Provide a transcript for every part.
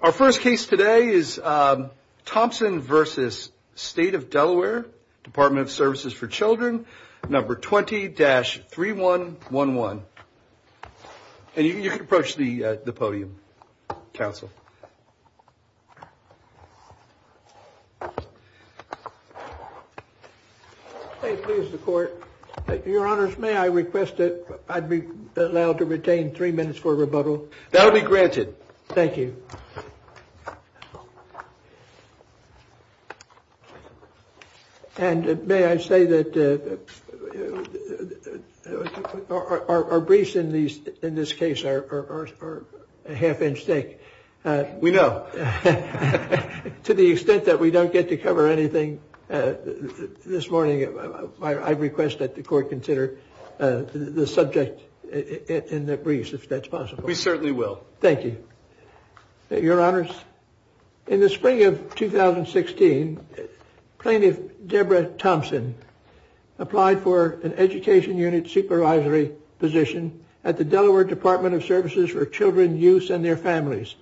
Our first case today is Thompson v. State of Delaware, Department of Services for Children, number 20-3111. And you can approach the podium, counsel. Thank you, Mr. Court. Your Honors, may I request that I be allowed to retain three minutes for rebuttal? That will be granted. Thank you. And may I say that our briefs in this case are a half inch thick. We know. To the extent that we don't get to cover anything this morning, I request that the Court consider the subject in the briefs, if that's possible. We certainly will. Thank you. Your Honors, in the spring of 2016, Plaintiff Deborah Thompson applied for an education unit supervisory position at the Delaware Department of Services for Children, Youths and their Families.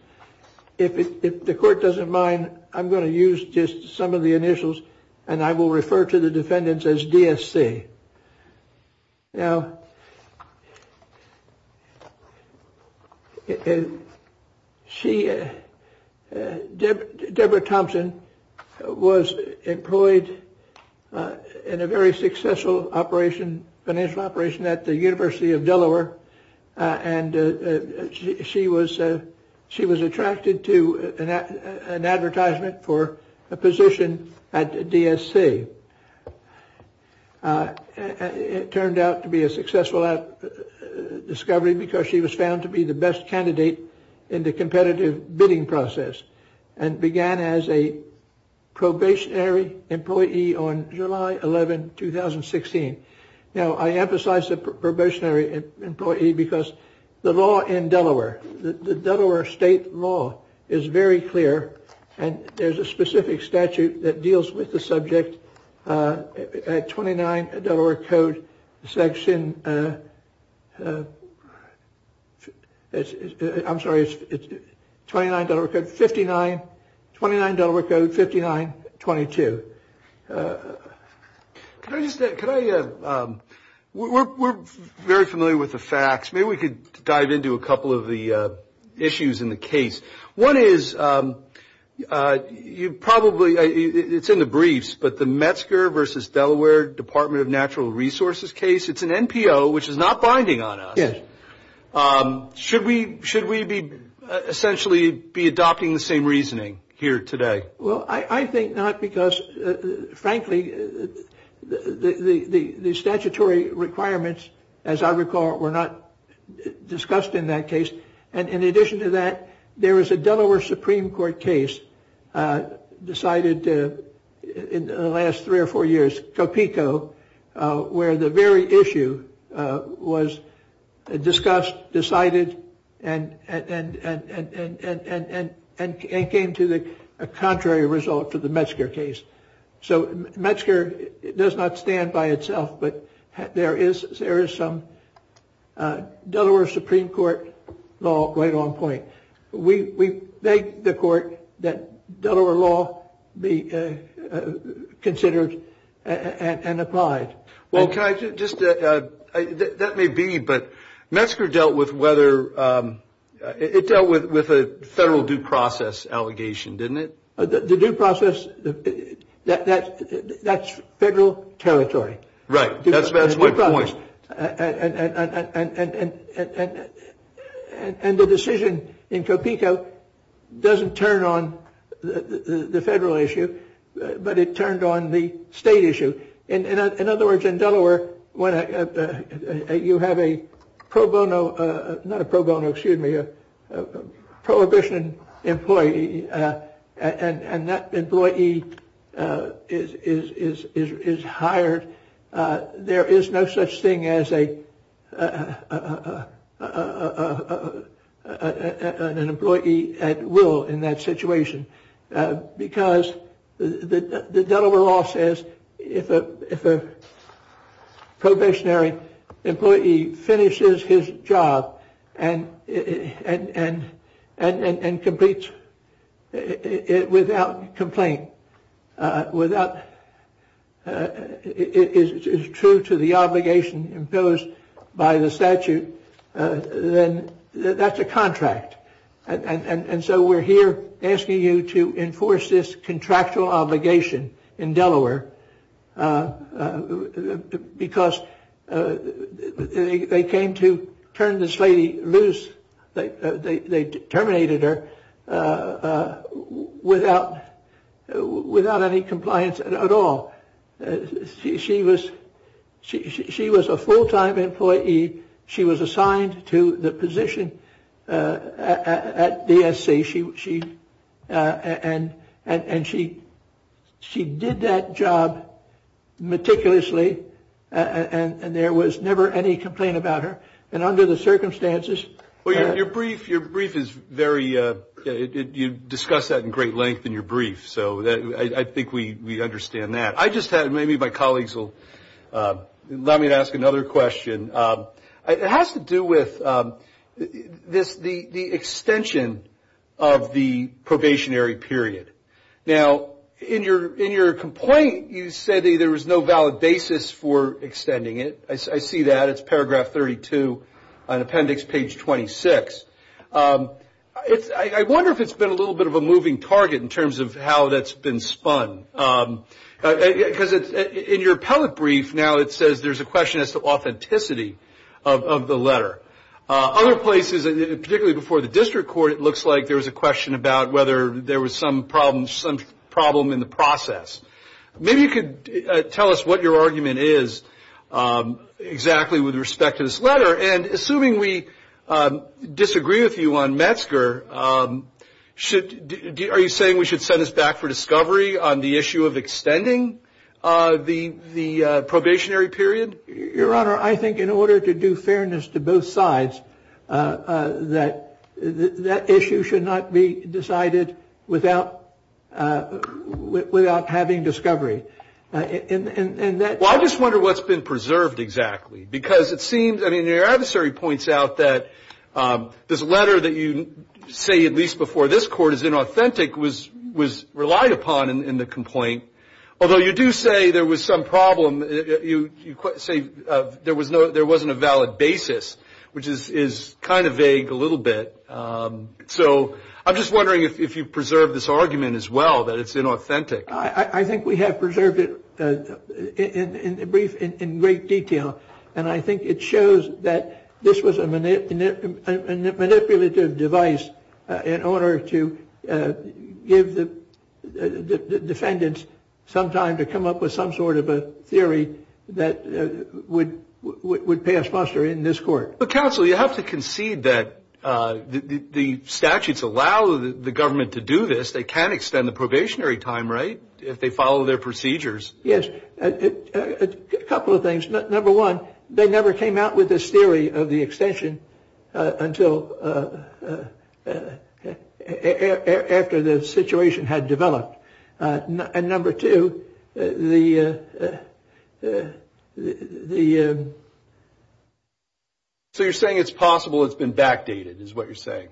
If the Court doesn't mind, I'm going to use just some of the initials and I will refer to the defendants as DSC. Now. She, Deborah Thompson, was employed in a very successful operation, financial operation at the University of Delaware. And she was she was attracted to an advertisement for a position at DSC. It turned out to be a successful discovery because she was found to be the best candidate in the competitive bidding process and began as a probationary employee on July 11, 2016. Now, I emphasize the probationary employee because the law in Delaware, the Delaware state law is very clear. And there's a specific statute that deals with the subject at twenty nine Delaware Code section. I'm sorry. It's twenty nine. Fifty nine. Twenty nine Delaware Code. Fifty nine. Twenty two. Can I just can I. We're very familiar with the facts. Maybe we could dive into a couple of the issues in the case. One is you probably. It's in the briefs. But the Metzger versus Delaware Department of Natural Resources case. It's an NPO, which is not binding on us. Should we should we be essentially be adopting the same reasoning here today? Well, I think not because, frankly, the statutory requirements, as I recall, were not discussed in that case. And in addition to that, there is a Delaware Supreme Court case decided in the last three or four years, Copico, where the very issue was discussed, decided and came to the contrary result to the Metzger case. So Metzger does not stand by itself. But there is there is some Delaware Supreme Court law right on point. We beg the court that Delaware law be considered and applied. Well, can I just that may be. But Metzger dealt with whether it dealt with with a federal due process allegation, didn't it? The due process that that's federal territory. Right. That's my point. And the decision in Copico doesn't turn on the federal issue, but it turned on the state issue. In other words, in Delaware, when you have a pro bono, not a pro bono, excuse me, a prohibition employee and that employee is hired. There is no such thing as a an employee at will in that situation, because the Delaware law says if a if a probationary employee finishes his job and and and completes it without complaint, without it is true to the obligation imposed by the statute, then that's a contract. And so we're here asking you to enforce this contractual obligation in Delaware because they came to turn this lady loose. They terminated her without without any compliance at all. She was she was a full time employee. She was assigned to the position at the essay. She she and and she she did that job meticulously and there was never any complaint about her. And under the circumstances, your brief, your brief is very good. You discuss that in great length in your brief. So I think we understand that. I just had maybe my colleagues will let me ask another question. It has to do with this, the extension of the probationary period. Now, in your in your complaint, you said there was no valid basis for extending it. I see that it's paragraph 32 on appendix page 26. It's I wonder if it's been a little bit of a moving target in terms of how that's been spun, because in your appellate brief now it says there's a question as to authenticity of the letter. Other places, particularly before the district court, it looks like there was a question about whether there was some problems, some problem in the process. Maybe you could tell us what your argument is exactly with respect to this letter. And assuming we disagree with you on Metzger, should are you saying we should send us back for discovery on the issue of extending the the probationary period? Your Honor, I think in order to do fairness to both sides that that issue should not be decided without without having discovery. And I just wonder what's been preserved exactly, because it seems I mean, your adversary points out that this letter that you say, at least before this court is inauthentic, was was relied upon in the complaint, although you do say there was some problem. You say there was no there wasn't a valid basis, which is is kind of vague a little bit. So I'm just wondering if you preserve this argument as well, that it's inauthentic. I think we have preserved it in the brief in great detail. And I think it shows that this was a manipulative device in order to give the defendants some time to come up with some sort of a theory that would would pass muster in this court. But counsel, you have to concede that the statutes allow the government to do this. They can extend the probationary time. Right. If they follow their procedures. Yes. A couple of things. Number one, they never came out with this theory of the extension until after the situation had developed. And number two, the the. So you're saying it's possible it's been backdated is what you're saying,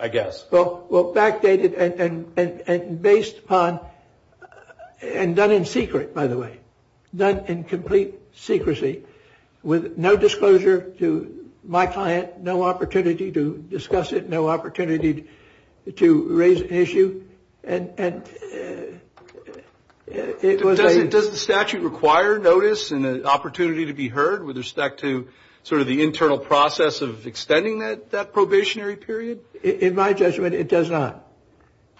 I guess. Well, well, backdated and based upon and done in secret, by the way, done in complete secrecy with no disclosure to my client. No opportunity to discuss it. No opportunity to raise an issue. And it was it does the statute require notice and an opportunity to be heard with respect to sort of the internal process of extending that probationary period. In my judgment, it does not.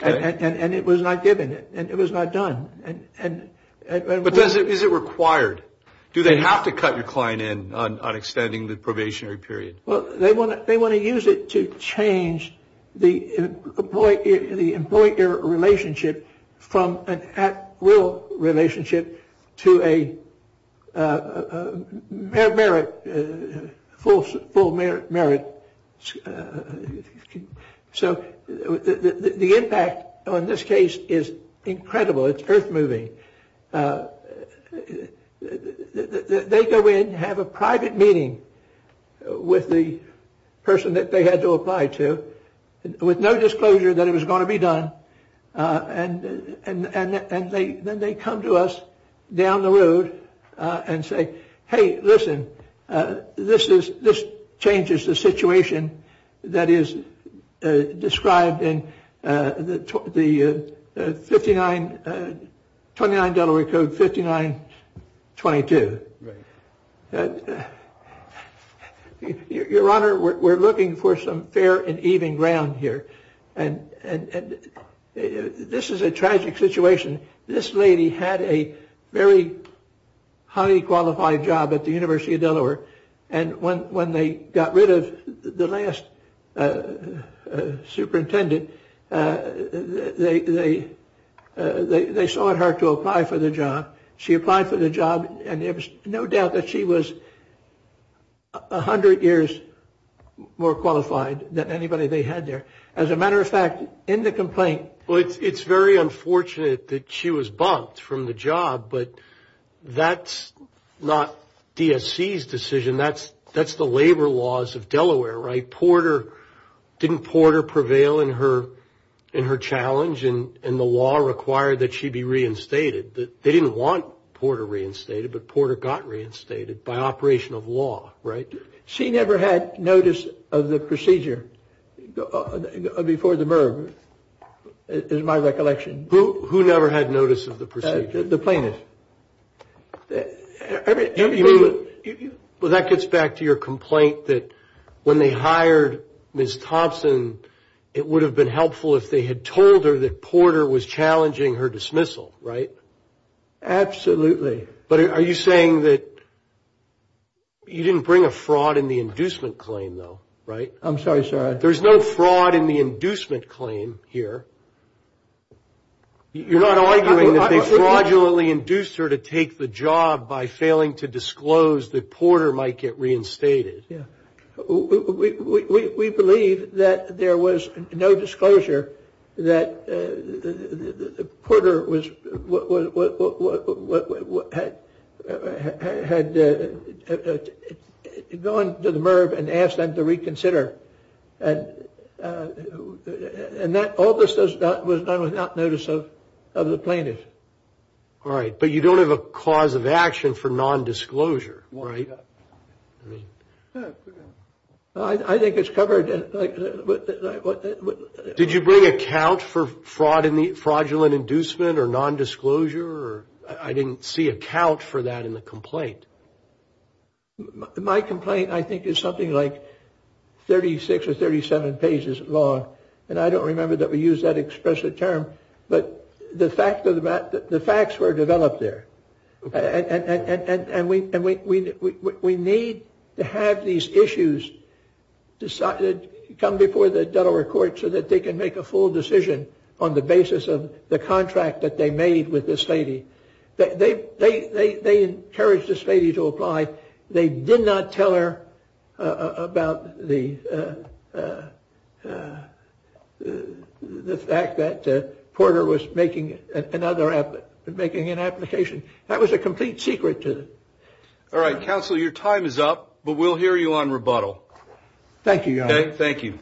And it was not given. And it was not done. And but does it is it required? Do they have to cut your client in on extending the probationary period? Well, they want to they want to use it to change the employee, the employer relationship from an at will relationship to a merit full full merit merit. So the impact on this case is incredible. It's earth moving. They go in, have a private meeting with the person that they had to apply to with no disclosure that it was going to be done. And then they come to us down the road and say, hey, listen, this is this changes the situation that is described in the fifty nine twenty nine Delaware Code. Fifty nine. Twenty two. Your Honor, we're looking for some fair and even ground here. And this is a tragic situation. This lady had a very highly qualified job at the University of Delaware. And when when they got rid of the last superintendent, they they they saw it hard to apply for the job. She applied for the job and there was no doubt that she was a hundred years more qualified than anybody they had there. As a matter of fact, in the complaint. Well, it's very unfortunate that she was bumped from the job. But that's not DSC's decision. That's that's the labor laws of Delaware. Right. Porter didn't Porter prevail in her in her challenge. And the law required that she be reinstated. They didn't want Porter reinstated, but Porter got reinstated by operation of law. Right. She never had notice of the procedure before the murder is my recollection. Who never had notice of the procedure? The plaintiff. Well, that gets back to your complaint that when they hired Miss Thompson, it would have been helpful if they had told her that Porter was challenging her dismissal. Right. Absolutely. But are you saying that you didn't bring a fraud in the inducement claim, though? Right. I'm sorry, sir. There's no fraud in the inducement claim here. You're not arguing that they fraudulently induced her to take the job by failing to disclose that Porter might get reinstated. We believe that there was no disclosure that Porter was what had gone to the Merv and asked them to reconsider. And that all this was done without notice of the plaintiff. All right. But you don't have a cause of action for nondisclosure, right? I think it's covered. Did you bring a count for fraud in the fraudulent inducement or nondisclosure? I didn't see a count for that in the complaint. My complaint, I think, is something like 36 or 37 pages long. And I don't remember that we used that expressive term, but the facts were developed there. And we need to have these issues come before the Delaware court so that they can make a full decision on the basis of the contract that they made with this lady. They encouraged this lady to apply. They did not tell her about the fact that Porter was making another app, making an application. That was a complete secret. All right, counsel, your time is up, but we'll hear you on rebuttal. Thank you. Thank you. Thank you.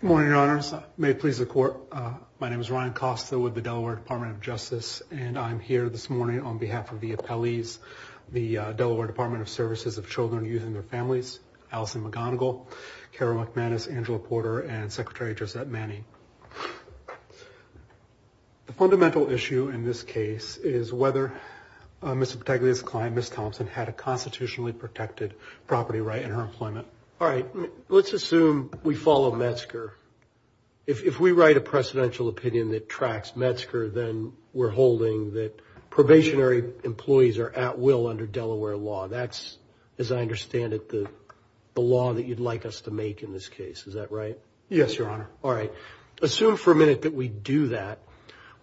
Good morning, Your Honors. May it please the court, my name is Ryan Costa with the Delaware Department of Justice. And I'm here this morning on behalf of the appellees, the Delaware Department of Services of Children, Youth, and their Families, Allison McGonigal, Carol McManus, Angela Porter, and Secretary Josette Manning. The fundamental issue in this case is whether Ms. Pataglia's client, Ms. Thompson, had a constitutionally protected property right in her employment. All right, let's assume we follow Metzger. If we write a precedential opinion that tracks Metzger, then we're holding that probationary employees are at will under Delaware law. That's, as I understand it, the law that you'd like us to make in this case. Is that right? Yes, Your Honor. All right. Assume for a minute that we do that.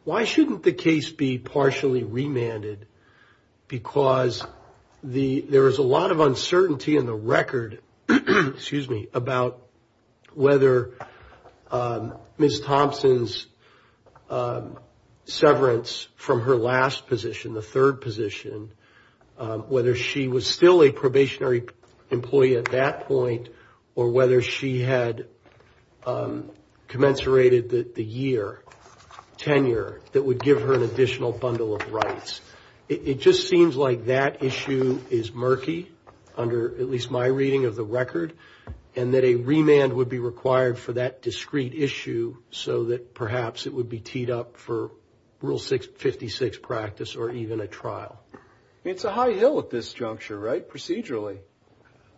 Why shouldn't the case be partially remanded? Because there is a lot of uncertainty in the record about whether Ms. Thompson's severance from her last position, the third position, whether she was still a probationary employee at that point, or whether she had commensurated the year, tenure, that would give her an additional bundle of rights. It just seems like that issue is murky, under at least my reading of the record, and that a remand would be required for that discrete issue, so that perhaps it would be teed up for Rule 56 practice or even a trial. I mean, it's a high hill at this juncture, right, procedurally?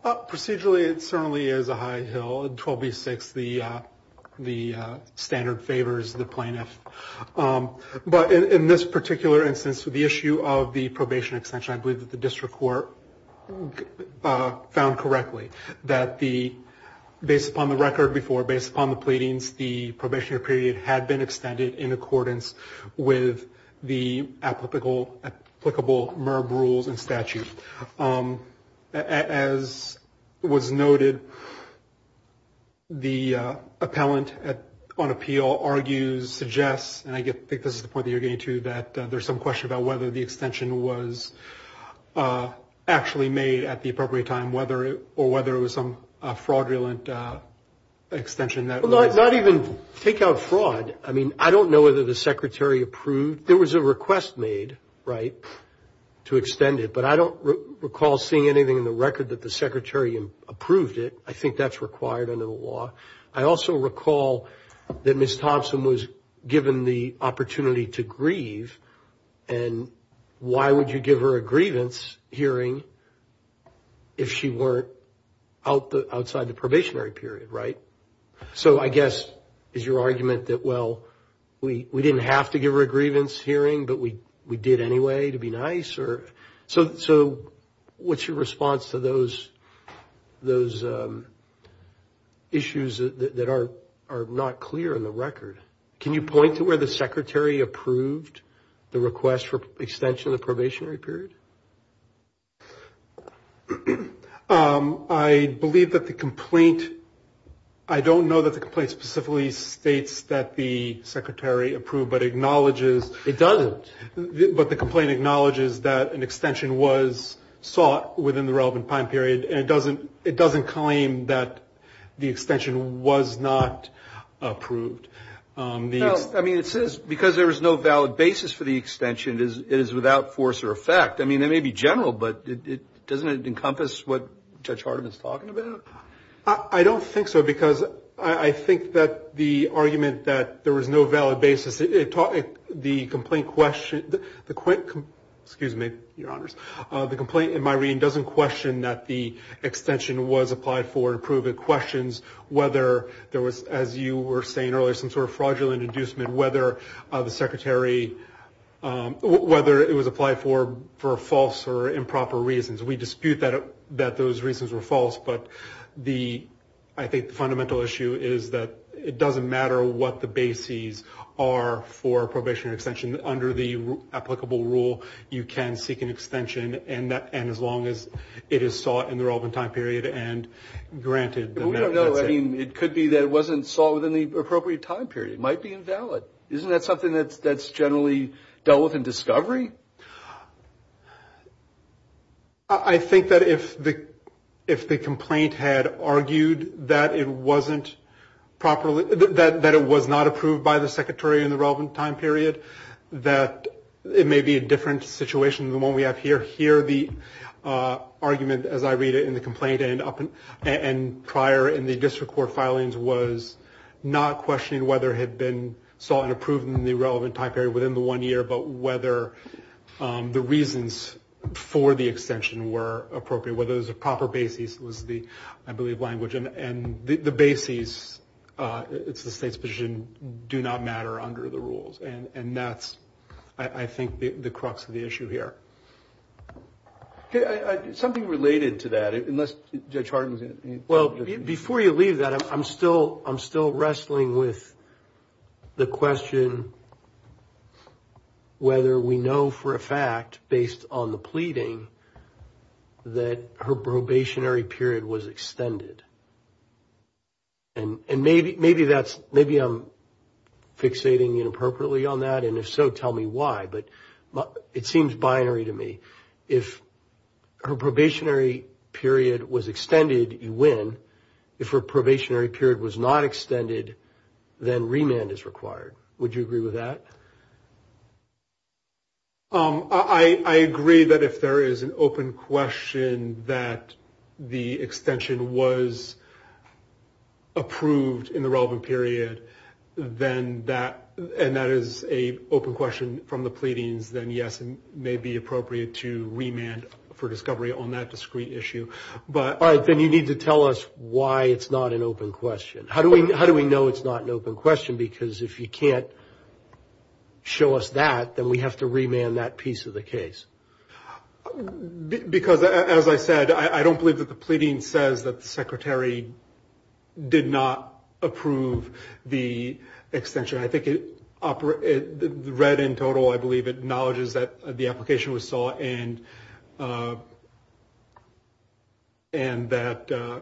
Procedurally, it certainly is a high hill. In 12b-6, the standard favors the plaintiff. But in this particular instance, with the issue of the probation extension, I believe that the district court found correctly that, based upon the record before, based upon the pleadings, the probationary period had been extended in accordance with the applicable MERB rules and statute. As was noted, the appellant on appeal argues, suggests, and I think this is the point that you're getting to, that there's some question about whether the extension was actually made at the appropriate time, or whether it was some fraudulent extension that was... Well, not even take-out fraud. I mean, I don't know whether the Secretary approved. There was a request made, right, to extend it, but I don't recall seeing anything in the record that the Secretary approved it. I think that's required under the law. I also recall that Ms. Thompson was given the opportunity to grieve, and why would you give her a grievance hearing if she weren't outside the probationary period, right? So I guess is your argument that, well, we didn't have to give her a grievance hearing, but we did anyway to be nice? So what's your response to those issues that are not clear in the record? Can you point to where the Secretary approved the request for extension of the probationary period? I believe that the complaint... I don't know that the complaint specifically states that the Secretary approved, but acknowledges... It doesn't. But the complaint acknowledges that an extension was sought within the relevant time period, and it doesn't claim that the extension was not approved. No, I mean, it says, because there was no valid basis for the extension, it is without force or effect. I mean, that may be general, but doesn't it encompass what Judge Hardiman is talking about? I don't think so, because I think that the argument that there was no valid basis, the complaint question... Excuse me, Your Honors. The complaint, in my reading, doesn't question that the extension was applied for, to prove it questions whether there was, as you were saying earlier, some sort of fraudulent inducement, whether it was applied for false or improper reasons. We dispute that those reasons were false, but I think the fundamental issue is that it doesn't matter what the bases are for probationary extension. Under the applicable rule, you can seek an extension, and as long as it is sought in the relevant time period and granted... But we don't know. I mean, it could be that it wasn't sought within the appropriate time period. It might be invalid. Isn't that something that's generally dealt with in discovery? I think that if the complaint had argued that it wasn't properly... that it was not approved by the secretary in the relevant time period, that it may be a different situation than the one we have here. Here, the argument, as I read it in the complaint and prior in the district court filings, was not questioning whether it had been sought and approved in the relevant time period within the one year, but whether the reasons for the extension were appropriate. Whether it was the proper bases was the, I believe, language. And the bases, it's the state's position, do not matter under the rules. And that's, I think, the crux of the issue here. Something related to that, unless Judge Harden's... Well, before you leave that, I'm still wrestling with the question whether we know for a fact, based on the pleading, that her probationary period was extended. And maybe I'm fixating inappropriately on that, and if so, tell me why. But it seems binary to me. If her probationary period was extended, you win. If her probationary period was not extended, then remand is required. Would you agree with that? I agree that if there is an open question that the extension was approved in the relevant period, and that is an open question from the pleadings, then yes, it may be appropriate to remand for discovery on that discrete issue. All right, then you need to tell us why it's not an open question. How do we know it's not an open question? Because if you can't show us that, then we have to remand that piece of the case. Because, as I said, I don't believe that the pleading says that the secretary did not approve the extension. I think it read in total, I believe, acknowledges that the application was sought and that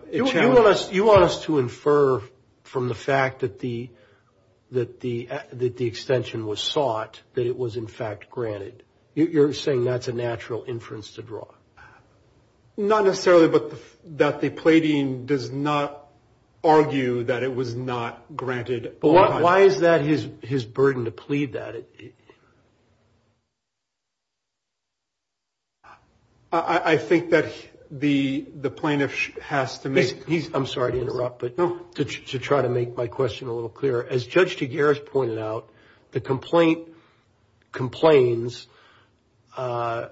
it challenged... You want us to infer from the fact that the extension was sought that it was, in fact, granted. You're saying that's a natural inference to draw. Not necessarily, but that the pleading does not argue that it was not granted. Why is that his burden to plead that? I think that the plaintiff has to make... I'm sorry to interrupt, but to try to make my question a little clearer, as Judge Tagueras pointed out, the complaint complains about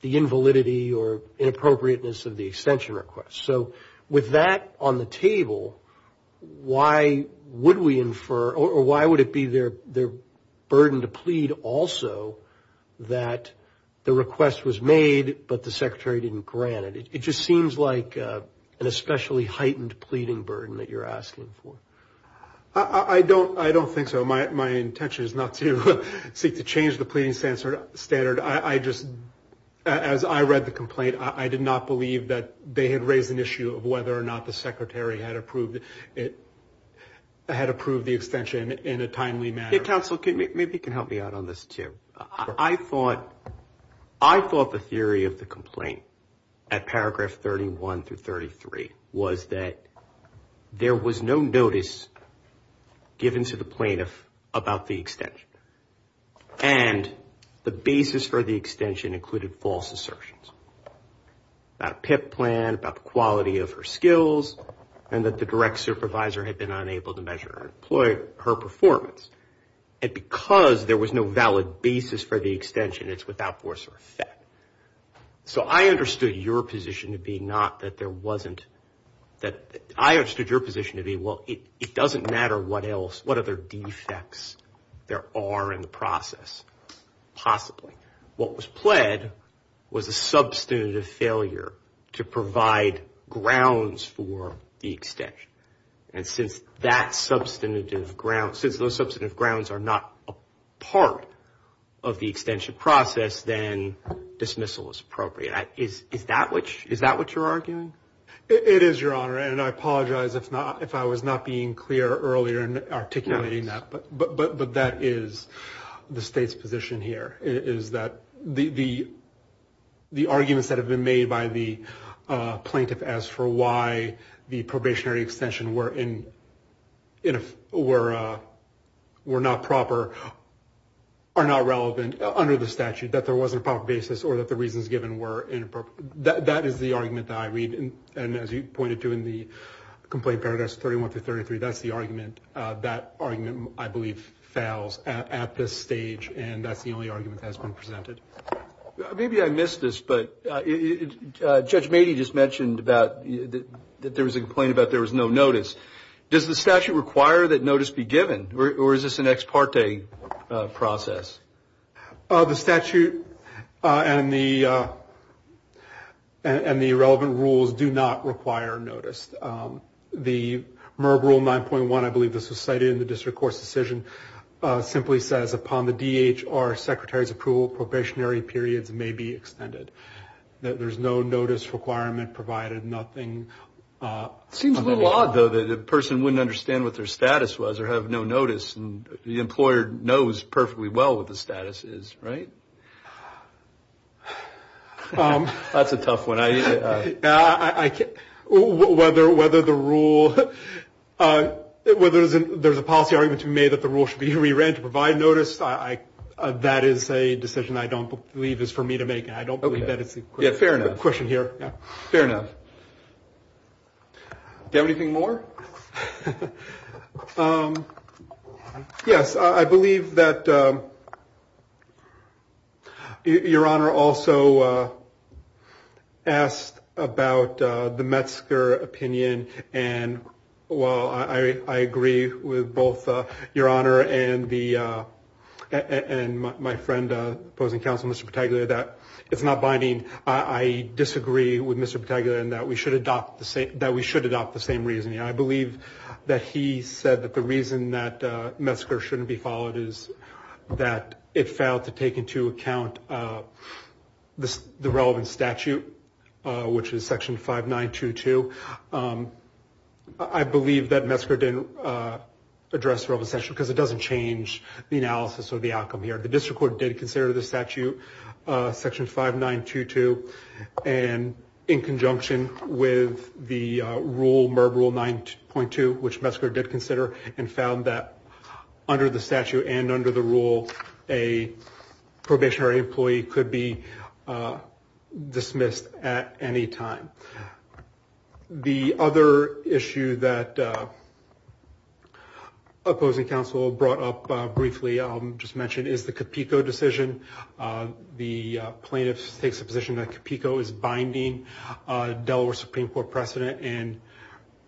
the invalidity or inappropriateness of the extension request. So with that on the table, why would we infer, or why would it be their burden to plead also that the request was made, but the secretary didn't grant it? It just seems like an especially heightened pleading burden that you're asking for. I don't think so. My intention is not to seek to change the pleading standard. I just, as I read the complaint, I did not believe that they had raised an issue of whether or not the secretary had approved the extension in a timely manner. Counsel, maybe you can help me out on this, too. I thought the theory of the complaint at paragraph 31 through 33 was that there was no notice given to the plaintiff about the extension, and the basis for the extension included false assertions about a PIP plan, about the quality of her skills, and that the direct supervisor had been unable to measure her performance. And because there was no valid basis for the extension, it's without force or effect. So I understood your position to be not that there wasn't, that I understood your position to be, well, it doesn't matter what else, what other defects there are in the process, possibly. What was pled was a substantive failure to provide grounds for the extension. And since those substantive grounds are not a part of the extension process, then dismissal is appropriate. Is that what you're arguing? It is, Your Honor, and I apologize if I was not being clear earlier in articulating that. But that is the State's position here, is that the arguments that have been made by the plaintiff as for why the probationary extension were not proper are not relevant under the statute, that there wasn't a proper basis or that the reasons given were inappropriate. That is the argument that I read, and as you pointed to in the complaint, I believe fails at this stage, and that's the only argument that has been presented. Maybe I missed this, but Judge Mady just mentioned that there was a complaint about there was no notice. Does the statute require that notice be given, or is this an ex parte process? The statute and the relevant rules do not require notice. The MERB Rule 9.1, I believe this was cited in the district court's decision, simply says upon the DHR secretary's approval, probationary periods may be extended. There's no notice requirement provided, nothing. It seems a little odd, though, that a person wouldn't understand what their status was or have no notice, and the employer knows perfectly well what the status is, right? That's a tough one. Whether the rule, whether there's a policy argument to be made that the rule should be re-ran to provide notice, that is a decision I don't believe is for me to make, and I don't believe that it's a question here. Fair enough. Do you have anything more? Yes, I believe that Your Honor also asked about the Metzger opinion, and while I agree with both Your Honor and my friend, opposing counsel, Mr. Pataglia, that it's not binding, I disagree with Mr. Pataglia in that we should adopt the same reasoning. I believe that he said that the reason that Metzger shouldn't be followed is that it failed to take into account the relevant statute, which is Section 5922. I believe that Metzger didn't address the relevant statute because it doesn't change the analysis or the outcome here. The district court did consider the statute, Section 5922, and in conjunction with the rule, MERB Rule 9.2, which Metzger did consider and found that under the statute and under the rule, a probationary employee could be dismissed at any time. The other issue that opposing counsel brought up briefly, I'll just mention, is the Capico decision. The plaintiff takes the position that Capico is binding Delaware Supreme Court precedent and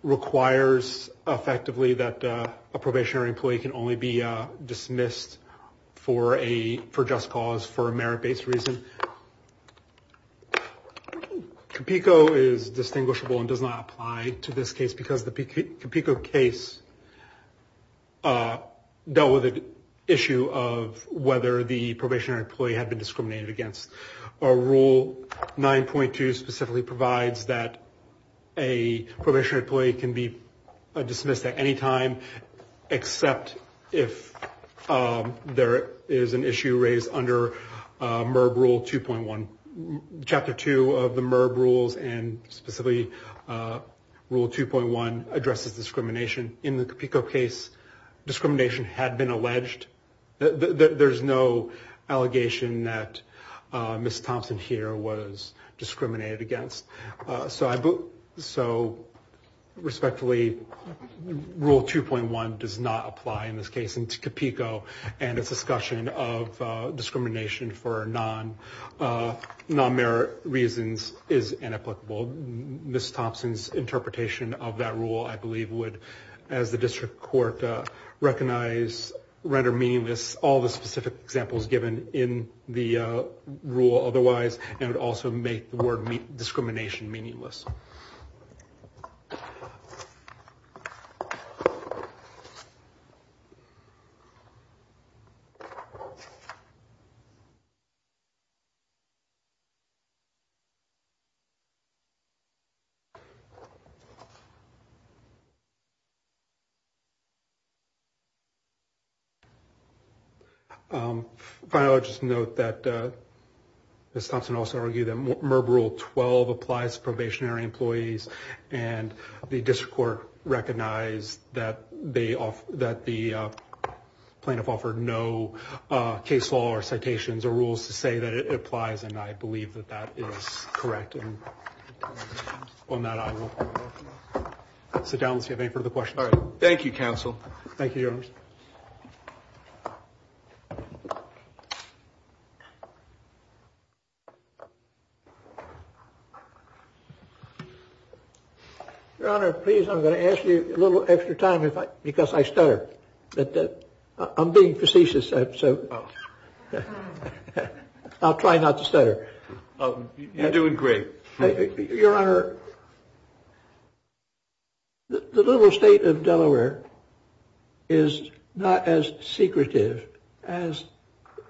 requires effectively that a probationary employee can only be dismissed for just cause, for a merit-based reason. Capico is distinguishable and does not apply to this case because the Capico case dealt with the issue of whether the probationary employee had been discriminated against. Rule 9.2 specifically provides that a probationary employee can be dismissed at any time except if there is an issue raised under MERB Rule 2.1. Chapter 2 of the MERB Rules and specifically Rule 2.1 addresses discrimination. In the Capico case, discrimination had been alleged. There's no allegation that Ms. Thompson here was discriminated against. So respectfully, Rule 2.1 does not apply in this case. Capico and its discussion of discrimination for non-merit reasons is inapplicable. Ms. Thompson's interpretation of that rule, I believe, would, as the district court, recognize, render meaningless all the specific examples given in the rule otherwise, and would also make the word discrimination meaningless. Finally, I'll just note that Ms. Thompson also argued that MERB Rule 12 applies to probationary employees, and the district court recognized that the plaintiff offered no case law or citations or rules to say that it applies, and I believe that that is correct. And on that, I will sit down and see if you have any further questions. Thank you, Counsel. Thank you, Your Honor. Your Honor, please, I'm going to ask you a little extra time because I stutter. I'm being facetious, so I'll try not to stutter. You're doing great. Your Honor, the little state of Delaware is not as secretive as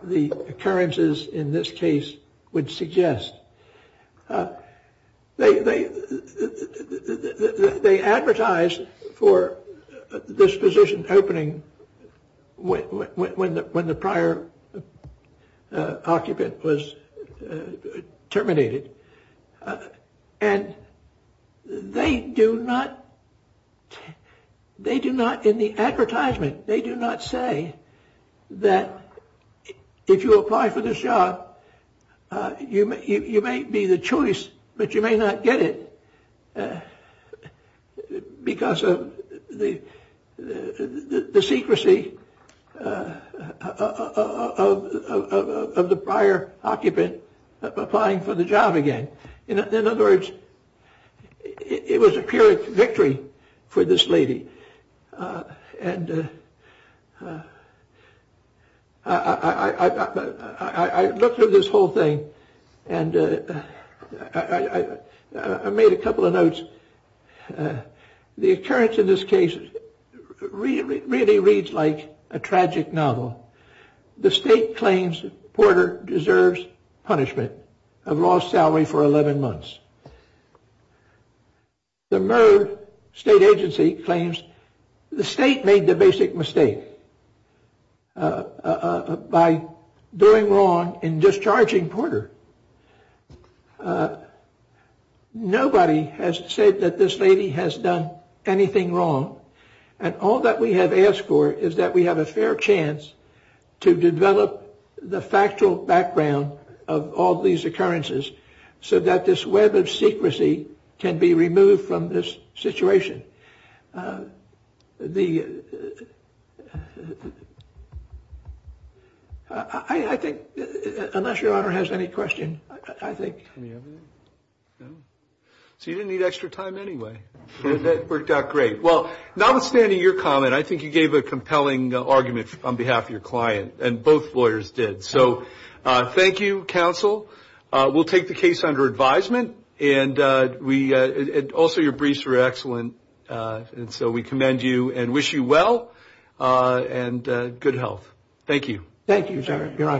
the occurrences in this case would suggest. They advertised for this position opening when the prior occupant was terminated, and they do not, in the advertisement, they do not say that if you apply for this job, you may be the choice, but you may not get it because of the secrecy of the prior occupant applying for the job again. In other words, it was a pure victory for this lady, and I looked through this whole thing, and I made a couple of notes. The occurrence in this case really reads like a tragic novel. The state claims Porter deserves punishment of lost salary for 11 months. The Murd State Agency claims the state made the basic mistake by doing wrong in discharging Porter. Nobody has said that this lady has done anything wrong, and all that we have asked for is that we have a fair chance to develop the factual background of all these occurrences so that this web of secrecy can be removed from this situation. I think, unless your Honor has any questions, I think. So you didn't need extra time anyway. That worked out great. Well, notwithstanding your comment, I think you gave a compelling argument on behalf of your client, and both lawyers did. So thank you, counsel. We'll take the case under advisement, and also your briefs were excellent, and so we commend you and wish you well and good health. Thank you. Thank you, your Honor.